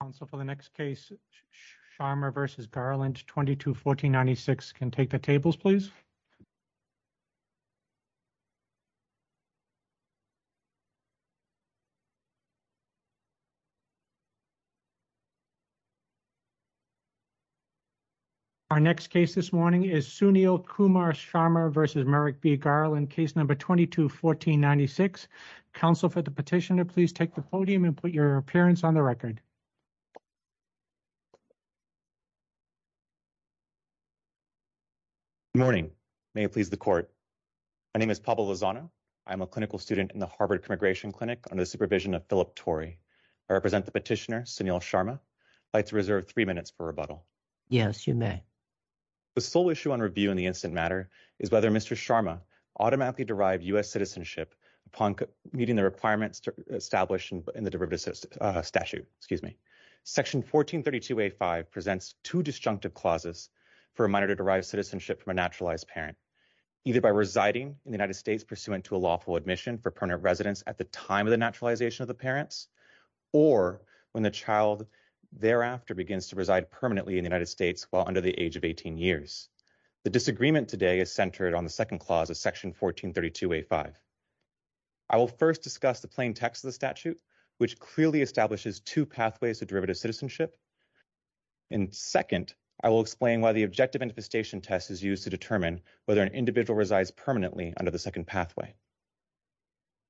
Council for the next case Sharma v. Garland 22-1496 can take the tables please. Our next case this morning is Sunil Kumar Sharma v. Merrick B. Garland case number 22-1496. Council for the petitioner please take the podium and put your appearance on the record. Good morning may it please the court. My name is Pablo Lozano. I'm a clinical student in the Harvard Immigration Clinic under the supervision of Philip Torrey. I represent the petitioner Sunil Sharma. I'd like to reserve three minutes for rebuttal. Yes you may. The sole issue on review in the instant matter is whether Mr. Sharma automatically derived U.S. citizenship upon meeting the requirements established in the derivative statute excuse me. Section 1432A5 presents two disjunctive clauses for a minor to derive citizenship from a naturalized parent either by residing in the United States pursuant to a lawful admission for permanent residence at the time of the naturalization of the parents or when the child thereafter begins to reside permanently in the United States while under the age of 18 years. The disagreement today is centered on the second clause of section 1432A5. I will first discuss the plain text of the statute which clearly establishes two pathways to derivative citizenship and second I will explain why the objective manifestation test is used to determine whether an individual resides permanently under the second pathway.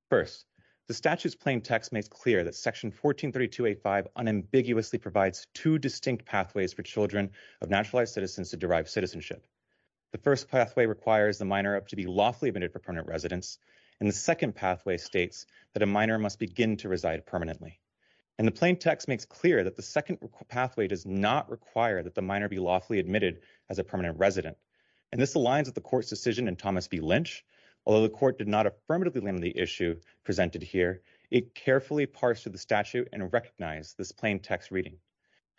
First the statute's plain text makes clear that section 1432A5 unambiguously provides two distinct pathways for children of naturalized citizens to derive citizenship. The first pathway requires the minor up to be lawfully admitted for permanent residence and the second pathway states that a minor must begin to reside permanently and the plain text makes clear that the second pathway does not require that the minor be lawfully admitted as a permanent resident and this aligns with the court's decision in Thomas B. Lynch although the court did not affirmatively limit the issue presented here it carefully parsed through the statute and recognized this plain text reading.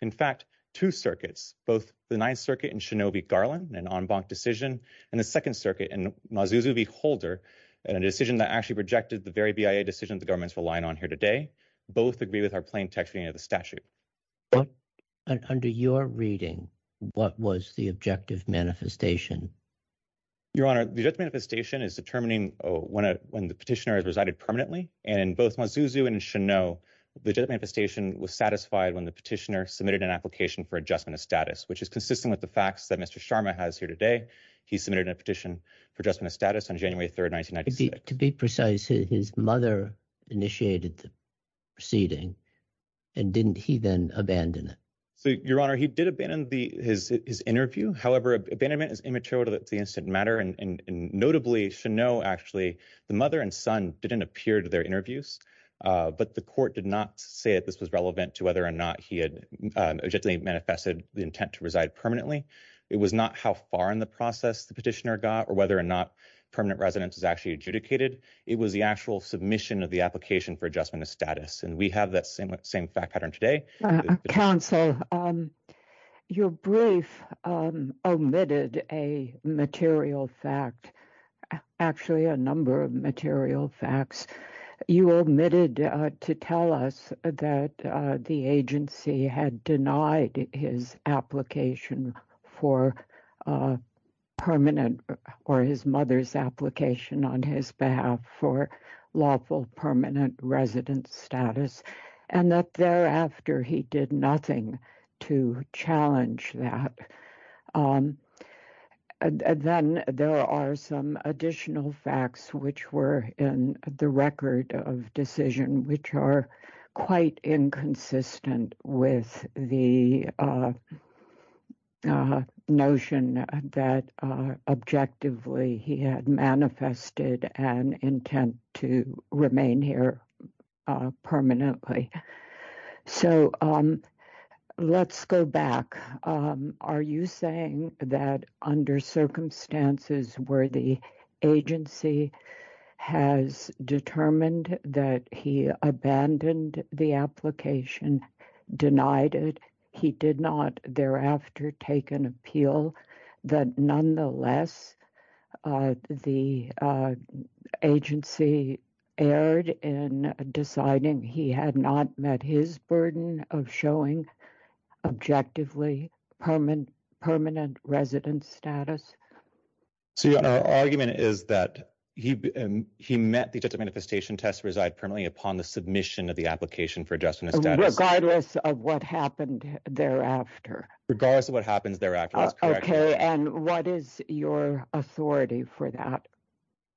In fact two circuits both the ninth circuit and Garland an en banc decision and the second circuit and Mazzuzo v. Holder and a decision that actually projected the very BIA decision the government's relying on here today both agree with our plain text reading of the statute. Under your reading what was the objective manifestation? Your honor the objective manifestation is determining when the petitioner has resided permanently and in both Mazzuzo and Chenot the manifestation was satisfied when the petitioner submitted an application for adjustment of status which is consistent with the facts that Mr. Sharma has here today he submitted a petition for adjustment of status on January 3rd 1996. To be precise his mother initiated the proceeding and didn't he then abandon it? So your honor he did abandon the his interview however abandonment is immaterial to the incident matter and notably Chenot actually the mother and son didn't appear to their interviews but the court did not say that this was relevant to whether or not he had objectively manifested the intent to reside permanently it was not how far in the process the petitioner got or whether or not permanent residence is actually adjudicated it was the actual submission of the application for adjustment of status and we have that same same fact pattern today. Counsel your brief omitted a material fact actually a number of material facts you omitted to tell us that the agency had denied his application for permanent or his mother's application on his behalf for lawful permanent residence status and that thereafter he did nothing to challenge that. Then there are some additional facts which were in the record of decision which are quite inconsistent with the notion that objectively he had manifested an intent to remain here permanently. So let's go back are you saying that under circumstances where the application denied it he did not thereafter take an appeal that nonetheless the agency erred in deciding he had not met his burden of showing objectively permanent residence status? So our argument is that he met the manifestation test reside permanently upon the submission of application for adjustment of status. Regardless of what happened thereafter? Regardless of what happens thereafter. Okay and what is your authority for that?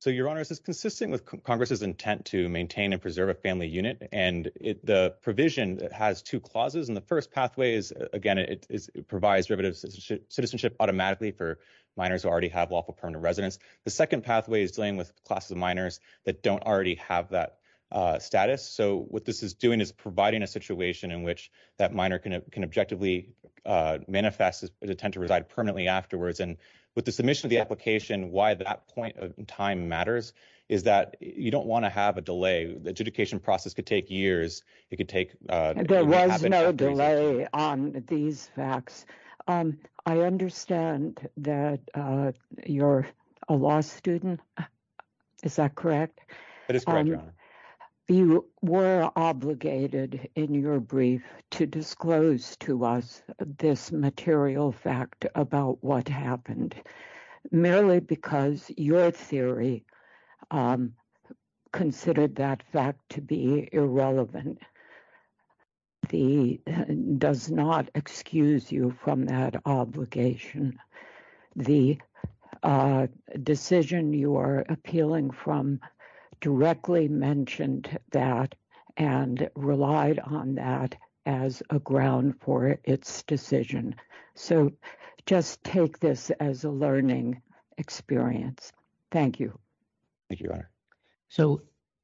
So your honor this is consistent with congress's intent to maintain and preserve a family unit and the provision has two clauses and the first pathway is again it provides derivative citizenship automatically for minors who already have lawful permanent residence. The second pathway is dealing with classes of minors that don't already have that status. So what this is doing is providing a situation in which that minor can objectively manifest his intent to reside permanently afterwards and with the submission of the application why that point of time matters is that you don't want to have a delay. The adjudication process could take years. There was no delay on these facts. I understand that you're a law student is that correct? That is correct. You were obligated in your brief to disclose to us this material fact about what happened merely because your theory considered that fact to be irrelevant. The does not excuse you from that obligation. The decision you are appealing from directly mentioned that and relied on that as a ground for its decision. So just take this as a learning experience. Thank you. Thank you your honor.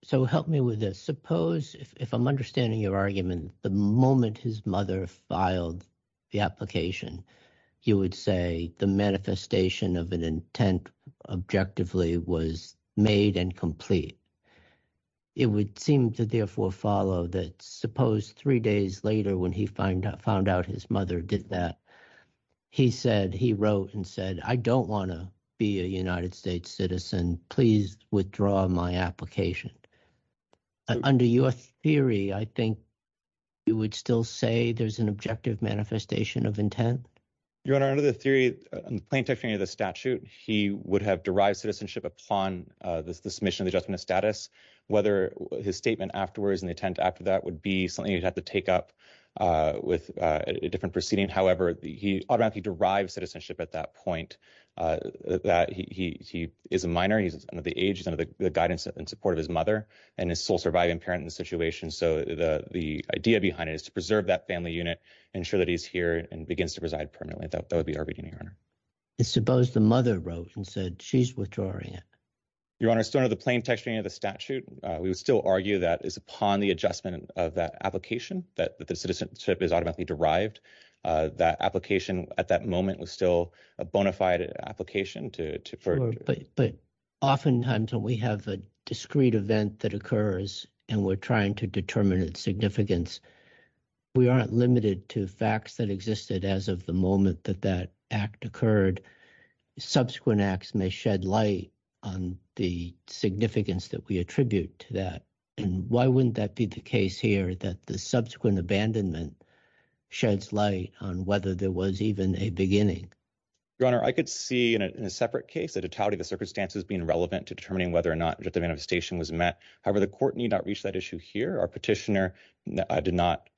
So help me with this. Suppose if I'm understanding your argument the moment his mother filed the application you would say the manifestation of an intent objectively was made and complete. It would seem to therefore follow that suppose three days later when he found out his mother did that he said he wrote and said I don't want to be a United States citizen please withdraw my application. Under your theory I think you would still say there's an objective manifestation of intent? Your honor under the theory in plain text of the statute he would have derived citizenship upon the submission of the judgment of status. Whether his statement afterwards and the intent after that would be something you'd have to take up with a different proceeding. However he automatically derived citizenship at that point that he is a minor he's under the age he's under the guidance and support of his mother and his sole surviving parent in the situation. So the idea behind it is to preserve that family unit ensure that he's here and begins to reside permanently. That would be our reading your honor. And suppose the mother wrote and said she's withdrawing it? Your honor still under the plain text reading of the statute we would still argue that is upon the adjustment of that application that the citizenship is automatically derived. That application at that moment was still a bona fide application. But oftentimes when we have a discrete event that occurs and we're trying to determine its significance we aren't limited to facts that existed as of the moment that that act occurred. Subsequent acts may shed light on the significance that we abandonment sheds light on whether there was even a beginning. Your honor I could see in a separate case the totality of the circumstances being relevant to determining whether or not the manifestation was met. However the court need not reach that issue here. Our petitioner did not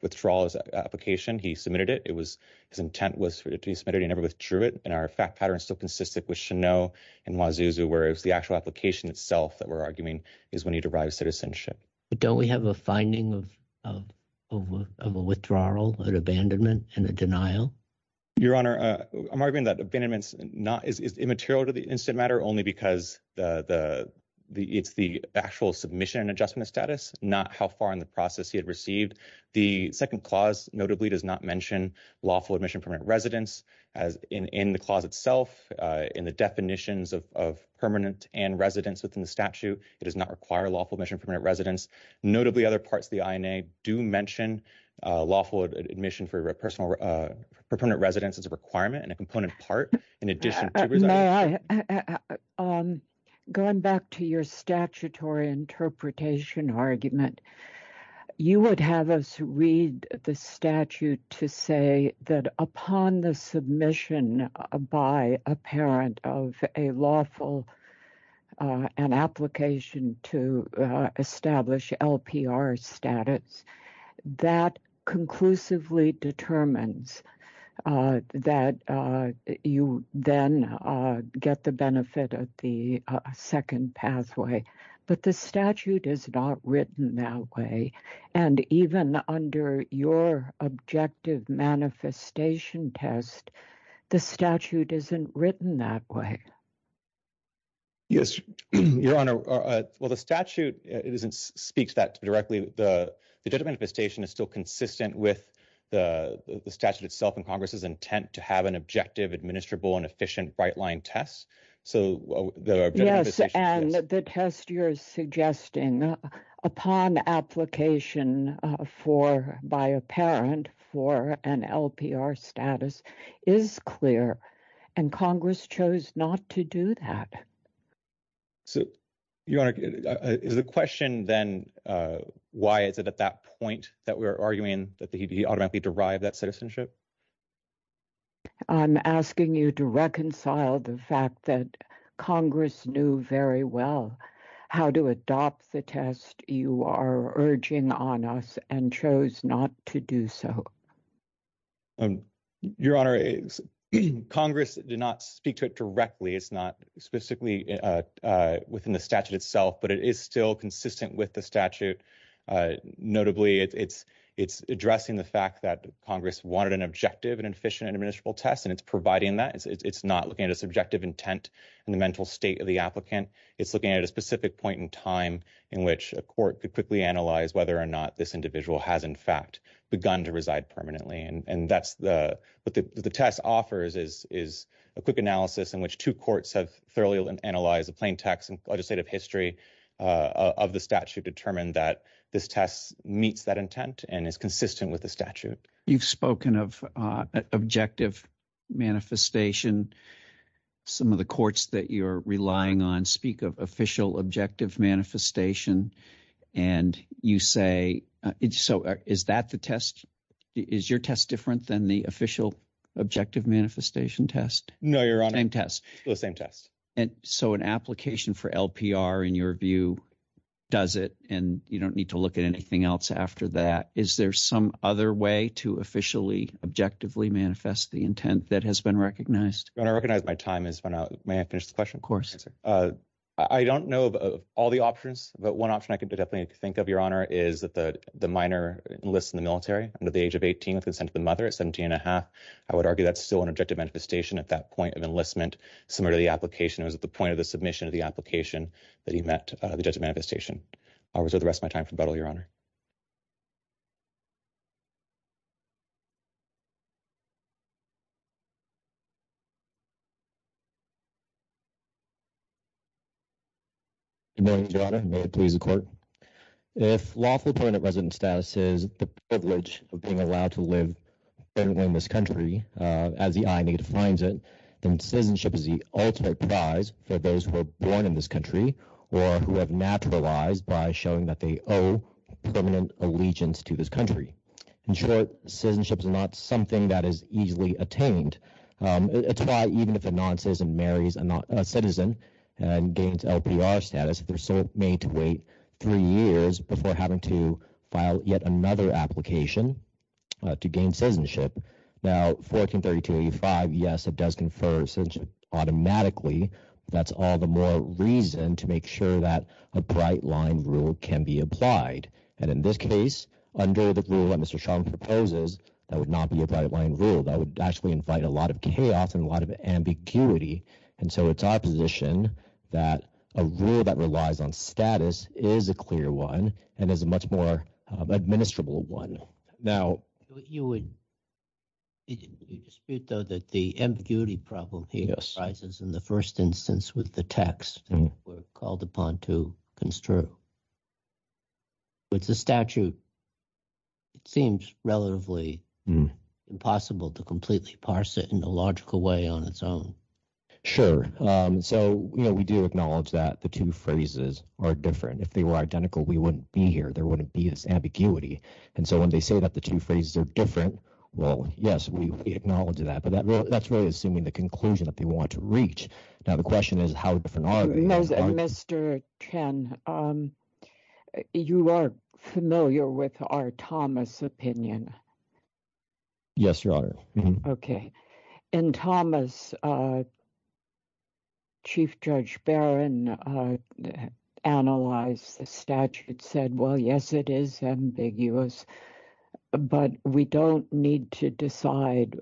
withdraw his application. He submitted it. It was his intent was to be submitted. He never withdrew it and our fact pattern still consisted with Chenot and Mwazuzu. Whereas the actual application itself that we're arguing is when he derives citizenship. But don't we have a finding of a withdrawal, an abandonment, and a denial? Your honor I'm arguing that abandonment is immaterial to the incident matter only because it's the actual submission adjustment status not how far in the process he had received. The second clause notably does not mention lawful admission permanent residence. In the clause itself in the definitions of permanent and residence within the statute it does not require lawful admission permanent residence. Notably other parts of the INA do mention lawful admission for a personal permanent residence as a requirement and a component part in addition. Going back to your statutory interpretation argument you would have us read the statute to say that upon the submission by a parent of a lawful application to establish LPR status that conclusively determines that you then get the benefit of the second pathway. But the statute is not written that way and even under your objective manifestation test the statute isn't written that way. Yes your honor well the statute it isn't speaks that directly the the general manifestation is still consistent with the the statute itself and congress's intent to have an objective administrable and efficient bright line test. So the test you're suggesting upon application for by a parent for an LPR status is clear and congress chose not to do that. So your honor is the question then why is it at that point that we're arguing that he automatically derived that citizenship? I'm asking you to reconcile the fact that congress knew very well how to adopt the test you are urging on us and chose not to do so. Your honor congress did not speak to it directly it's not specifically within the statute itself but it is still consistent with the statute. Notably it's addressing the fact that congress wanted an objective and efficient and administrable test and it's providing that it's not looking at subjective intent and the mental state of the applicant. It's looking at a specific point in time in which a court could quickly analyze whether or not this individual has in fact begun to reside permanently and and that's the what the test offers is is a quick analysis in which two courts have thoroughly analyzed the plain text and legislative history of the statute determined that this test meets that intent and is consistent with the statute. You've spoken of objective manifestation some of the courts that you're relying on speak of official objective manifestation and you say it's so is that the test is your test different than the official objective manifestation test? No your honor. Same test? The same test. And so an application for LPR in your view does it and you don't need to look at anything else after that is there some other way to officially objectively manifest the intent that has been recognized? I recognize my time is run out may I finish the question? Of course. I don't know of all the options but one option I could definitely think of your honor is that the the minor enlists in the military under the age of 18 with consent of the mother at 17 and a half. I would argue that's still an objective manifestation at that point of enlistment similar to the application it was at the point of the submission of the application that he met the judge of manifestation. I'll reserve the rest of my time for rebuttal your honor. Good morning your honor may it please the court if lawful permanent resident status is the privilege of being allowed to live and win this country as the INA defines it then citizenship is the ultimate prize for those who are born in this country or who have naturalized by showing that they owe permanent allegiance to this country. In short citizenship is not something that is easily attained. It's why even if a non-citizen marries a citizen and gains LPR status they're still made to wait three years before having to file yet another application to gain citizenship. Now 1432 85 yes it does confer citizenship automatically that's all the more reason to make sure that a bright line rule can be applied and in this case under the rule that Mr. Sharma proposes that would not be a bright line rule that would actually invite a lot of chaos and a lot of ambiguity and so it's our position that a rule that relies on status is a clear one and is a much more administrable one. Now you would dispute though that the ambiguity problem here arises in the first instance with the text called upon to construe. With the statute it seems relatively impossible to completely parse it in a logical way on its own. Sure so you know we do acknowledge that the two phrases are different if they were identical we wouldn't be here there wouldn't be this ambiguity and so when they say that the two phrases are different well yes we acknowledge that that's really assuming the conclusion that they want to reach now the question is how different Mr. Chen you are familiar with our Thomas opinion yes your honor okay in Thomas Chief Judge Barron analyzed the statute said well yes it is ambiguous but we don't need to decide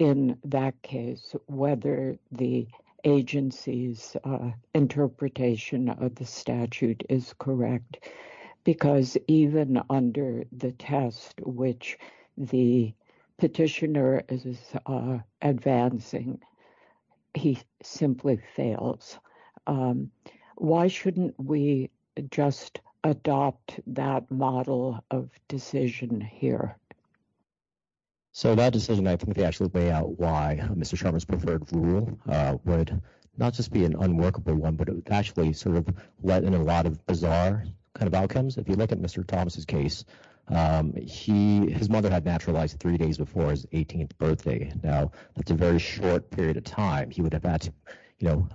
in that case whether the agency's interpretation of the statute is correct because even under the test which the petitioner is advancing he simply fails. Why shouldn't we just adopt that model of decision here? So that decision I think they actually lay out why Mr. Sharma's preferred rule would not just be an unworkable one but it would actually sort of let in a lot of bizarre kind of outcomes. If you look at Mr. Thomas's case his mother had naturalized three days before his 18th birthday now that's a very short period of time he would have had to you know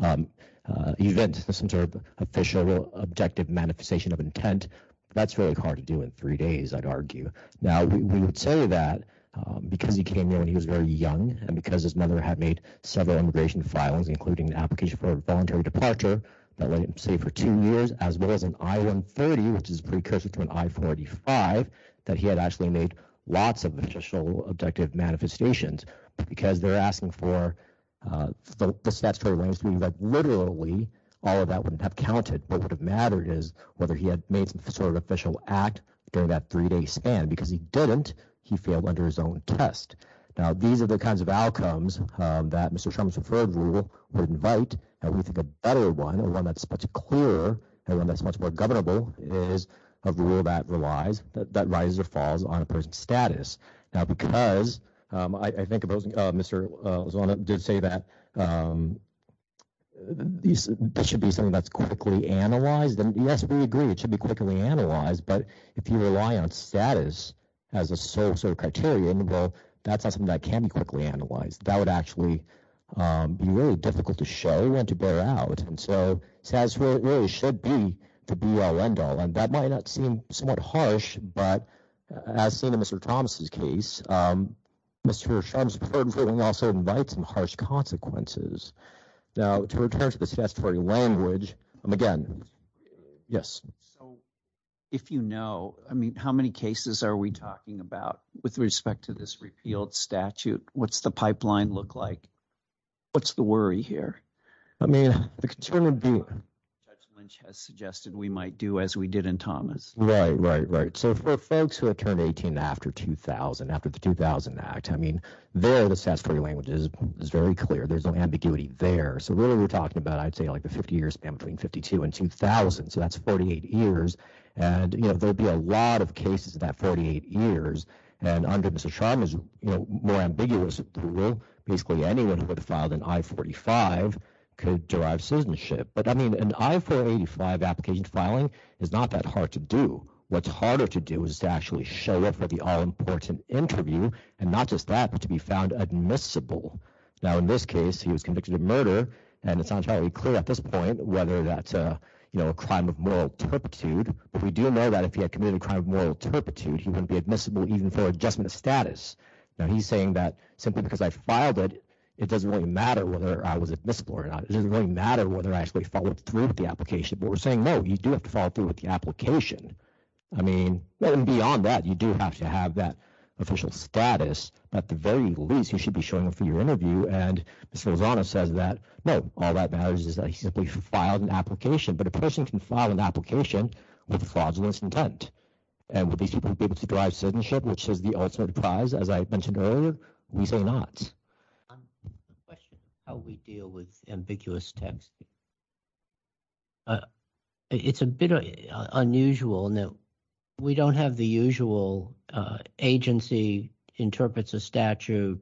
event some sort of official objective manifestation of intent that's really hard to do in three days I'd argue now we would say that because he came here when he was very young and because his mother had made several immigration filings including an application for a voluntary departure that let him stay for two years as well as an I-130 which is precursor to an I-45 that he had actually made lots of official objective manifestations because they're asking for the statutory language to mean that literally all of that wouldn't have counted what would have mattered is whether he had made some sort of official act during that three-day span because he didn't he failed under his own test now these are the kinds of outcomes that Mr. Sharma's preferred rule would invite and we think a better one a one that's much clearer and one that's much more governable is a rule that relies that rises or status now because I think opposing Mr. Zona did say that this should be something that's quickly analyzed and yes we agree it should be quickly analyzed but if you rely on status as a sole sort of criterion well that's not something that can be quickly analyzed that would actually be really difficult to show and to bear out and so it says where it really should be and that might not seem somewhat harsh but as seen in Mr. Thomas's case Mr. Sharma's preferred ruling also invites some harsh consequences now to return to the statutory language again yes so if you know I mean how many cases are we talking about with respect to this repealed statute what's the pipeline look like what's the worry here I mean the concern would be has suggested we might do as we did in Thomas right right right so for folks who have turned 18 after 2000 after the 2000 act I mean there the statutory language is very clear there's no ambiguity there so really we're talking about I'd say like the 50 years span between 52 and 2000 so that's 48 years and you know there'll be a lot of cases in that 48 years and under Mr. Sharma's you know more ambiguous rule basically anyone who would have filed an I-45 could derive application filing is not that hard to do what's harder to do is to actually show up for the all important interview and not just that but to be found admissible now in this case he was convicted of murder and it's not entirely clear at this point whether that's uh you know a crime of moral turpitude but we do know that if he had committed a crime of moral turpitude he wouldn't be admissible even for adjustment status now he's saying that simply because I filed it it doesn't really matter whether I was admissible or not it doesn't really matter whether I actually followed through with the application but we're saying no you do have to follow through with the application I mean well and beyond that you do have to have that official status at the very least you should be showing up for your interview and Mr. Lozano says that no all that matters is that he simply filed an application but a person can file an application with a fraudulence intent and would these people be able to derive citizenship which is the ultimate prize as I mentioned earlier we how we deal with ambiguous text it's a bit unusual now we don't have the usual agency interprets a statute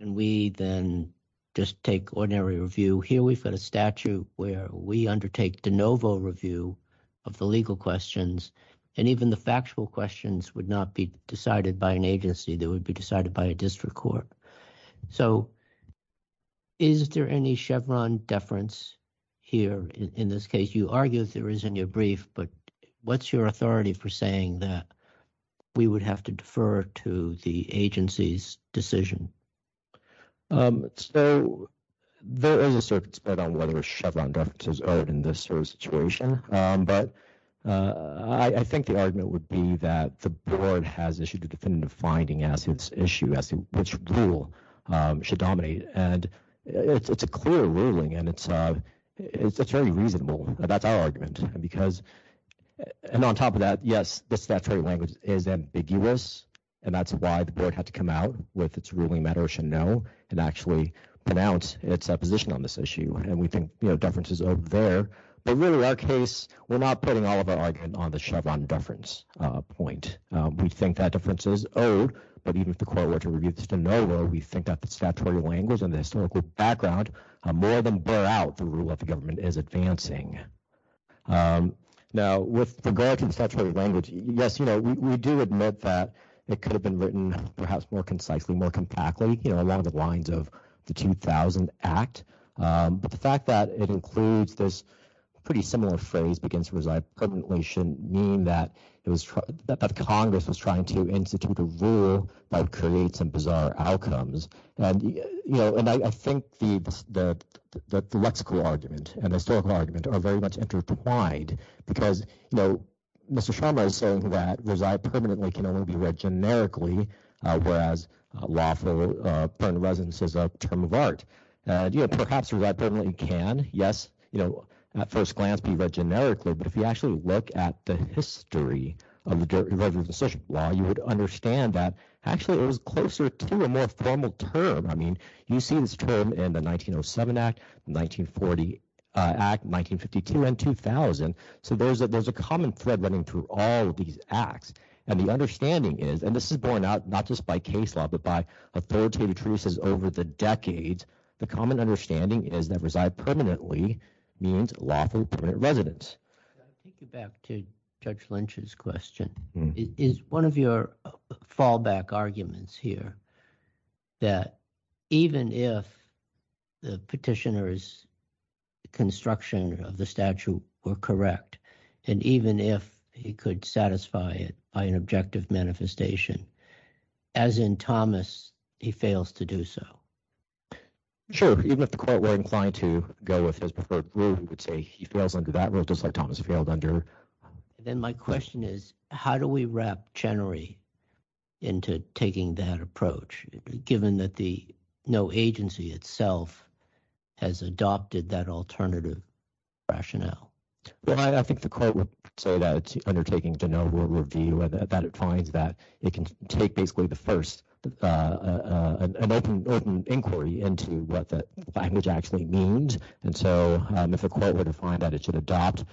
and we then just take ordinary review here we've got a statute where we undertake de novo review of the legal questions and even the factual questions would not be decided by an agency that would be decided by a is there any chevron deference here in this case you argue there is in your brief but what's your authority for saying that we would have to defer to the agency's decision um so there is a circuit spread on whether a chevron deference is earned in this sort of situation um but uh I think the argument would be that the board has issued a definitive finding as which rule should dominate and it's a clear ruling and it's uh it's very reasonable that's our argument because and on top of that yes this statutory language is ambiguous and that's why the board had to come out with its ruling matter should know and actually pronounce its opposition on this issue and we think you know deference is over there but really our case we're not putting all of our argument on the chevron deference uh point we think that difference is owed but even if the court were to review this de novo we think that the statutory language and the historical background more than bear out the rule of the government is advancing um now with regard to the statutory language yes you know we do admit that it could have been written perhaps more concisely more compactly you know along the lines of the 2000 act um but the fact that it includes this pretty similar phrase begins to reside permanently shouldn't mean that it was that congress was trying to institute a rule that creates some bizarre outcomes and you know and I think the the the lexical argument and the historical argument are very much intertwined because you know mr sharma is saying that reside permanently can only be read generically whereas lawful uh permanent residence is a term of art and you know perhaps you read permanently can yes you know at first glance be read generically but if you actually look at the history of the dirt involving social law you would understand that actually it was closer to a more formal term I mean you see this term in the 1907 act 1940 uh act 1952 and 2000 so there's a there's a common thread running through all these acts and the understanding is and this is borne out not just by case law but by authoritative truces over the decades the common understanding is that permanently means lawful permanent residence take you back to judge lynch's question is one of your fallback arguments here that even if the petitioner's construction of the statue were correct and even if he could satisfy it by an objective manifestation as in thomas he fails to so sure even if the court were inclined to go with his preferred rule he would say he fails under that rule just like thomas failed under then my question is how do we wrap chenery into taking that approach given that the no agency itself has adopted that alternative rationale well I think the court would say that undertaking de novo review that it finds that it can take basically the first uh uh an open open inquiry into what the language actually means and so if the court were to find that it should adopt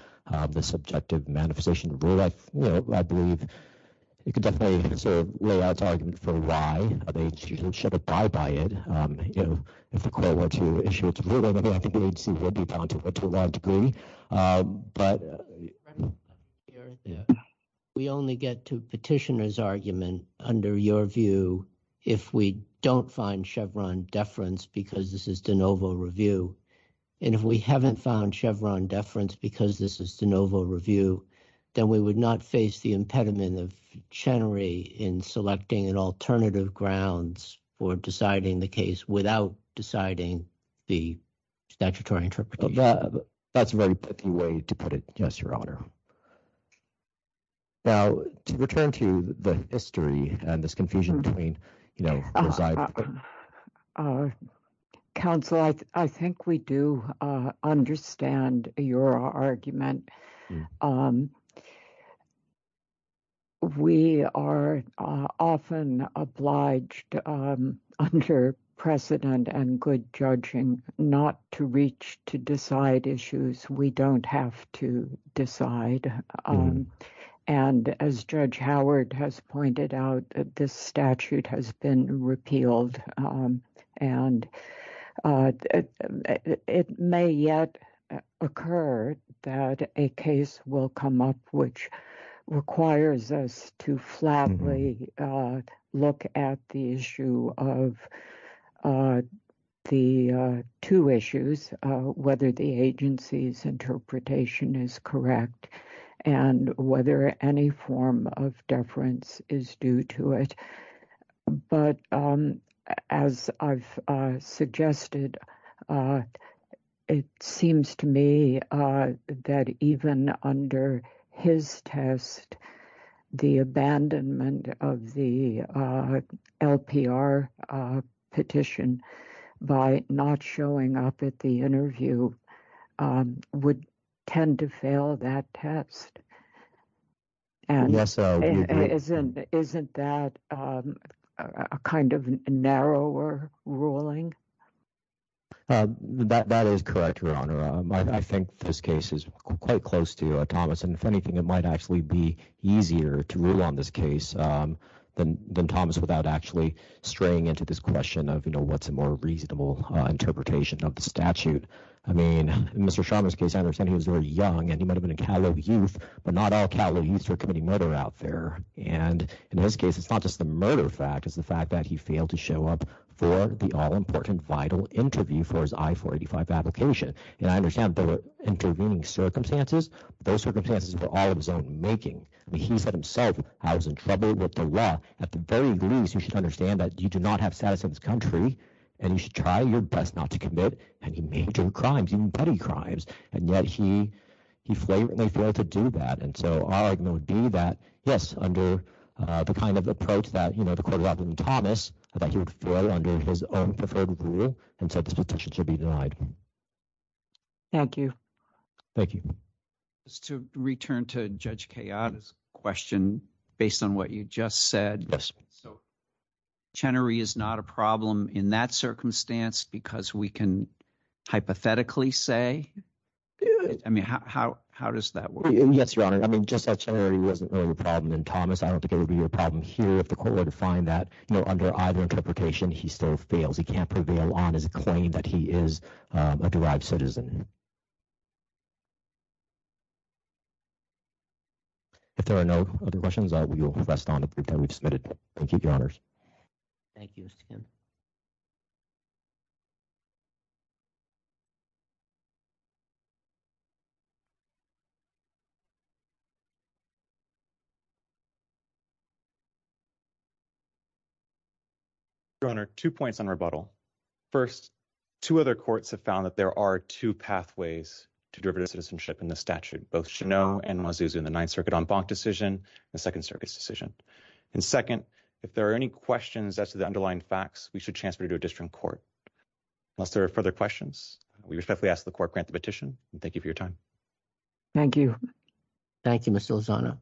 the subjective manifestation rule I you know I believe you can definitely sort of lay out argument for why they should abide by it um you know if the court were to issue it to me I think the agency would be bound to it to a large degree um but we only get to petitioner's argument under your view if we don't find chevron deference because this is de novo review and if we haven't found chevron deference because this is de novo review then we would not face the impediment of chenery in selecting an alternative grounds for deciding the case without deciding the statutory interpretation that's a very picky way to put yes your honor now to return to the history and this confusion between you know uh council I I think we do uh understand your argument um we are uh often obliged um under precedent and good judging not to reach to decide issues we don't have to decide um and as judge howard has pointed out this statute has been repealed um and it may yet occur that a case will come up which requires us to flatly uh look at the issue of uh the uh two issues uh whether the agency's interpretation is correct and whether any form of deference is due to it but um as I've uh suggested uh it seems to me uh that even under his test the abandonment of the uh lpr uh petition by not showing up at the interview um would tend to fail that test and yes isn't isn't that um a kind of narrower ruling um that that is correct your honor I think this case is quite close to uh thomas and if anything it might actually be easier to rule on this case um than than thomas without actually straying into this question of you know what's a more reasonable uh interpretation of the statute I mean in Mr. Sharma's case I understand he was very young and he might have been a catalogue youth but not all catalogue youths are committing murder out there and in his case it's not just murder fact it's the fact that he failed to show up for the all-important vital interview for his I-485 application and I understand there were intervening circumstances those circumstances were all of his own making I mean he said himself I was in trouble with the law at the very least you should understand that you do not have status in this country and you should try your best not to commit any major crimes even petty crimes and yet he he flagrantly failed to do that and so that yes under uh the kind of approach that you know the court rather than thomas I thought he would fall under his own preferred rule and said this petition should be denied thank you thank you just to return to Judge Kayada's question based on what you just said yes so Chenery is not a problem in that circumstance because we can hypothetically say good I mean how how does that work yes your honor I mean just that charity wasn't really the problem and thomas I don't think it would be a problem here if the court were to find that you know under either interpretation he still fails he can't prevail on his claim that he is a derived citizen if there are no other questions I will rest on the group that we've submitted thank you your honors thank you your honor two points on rebuttal first two other courts have found that there are two pathways to derivative citizenship in the statute both chenot and mazuzu in the ninth circuit en banc decision the second circuit's decision and second if there are any questions as to the underlying facts we should transfer to a district court unless there are further questions we respectfully ask the court grant the petition and thank you for your time thank you thank you mr lozano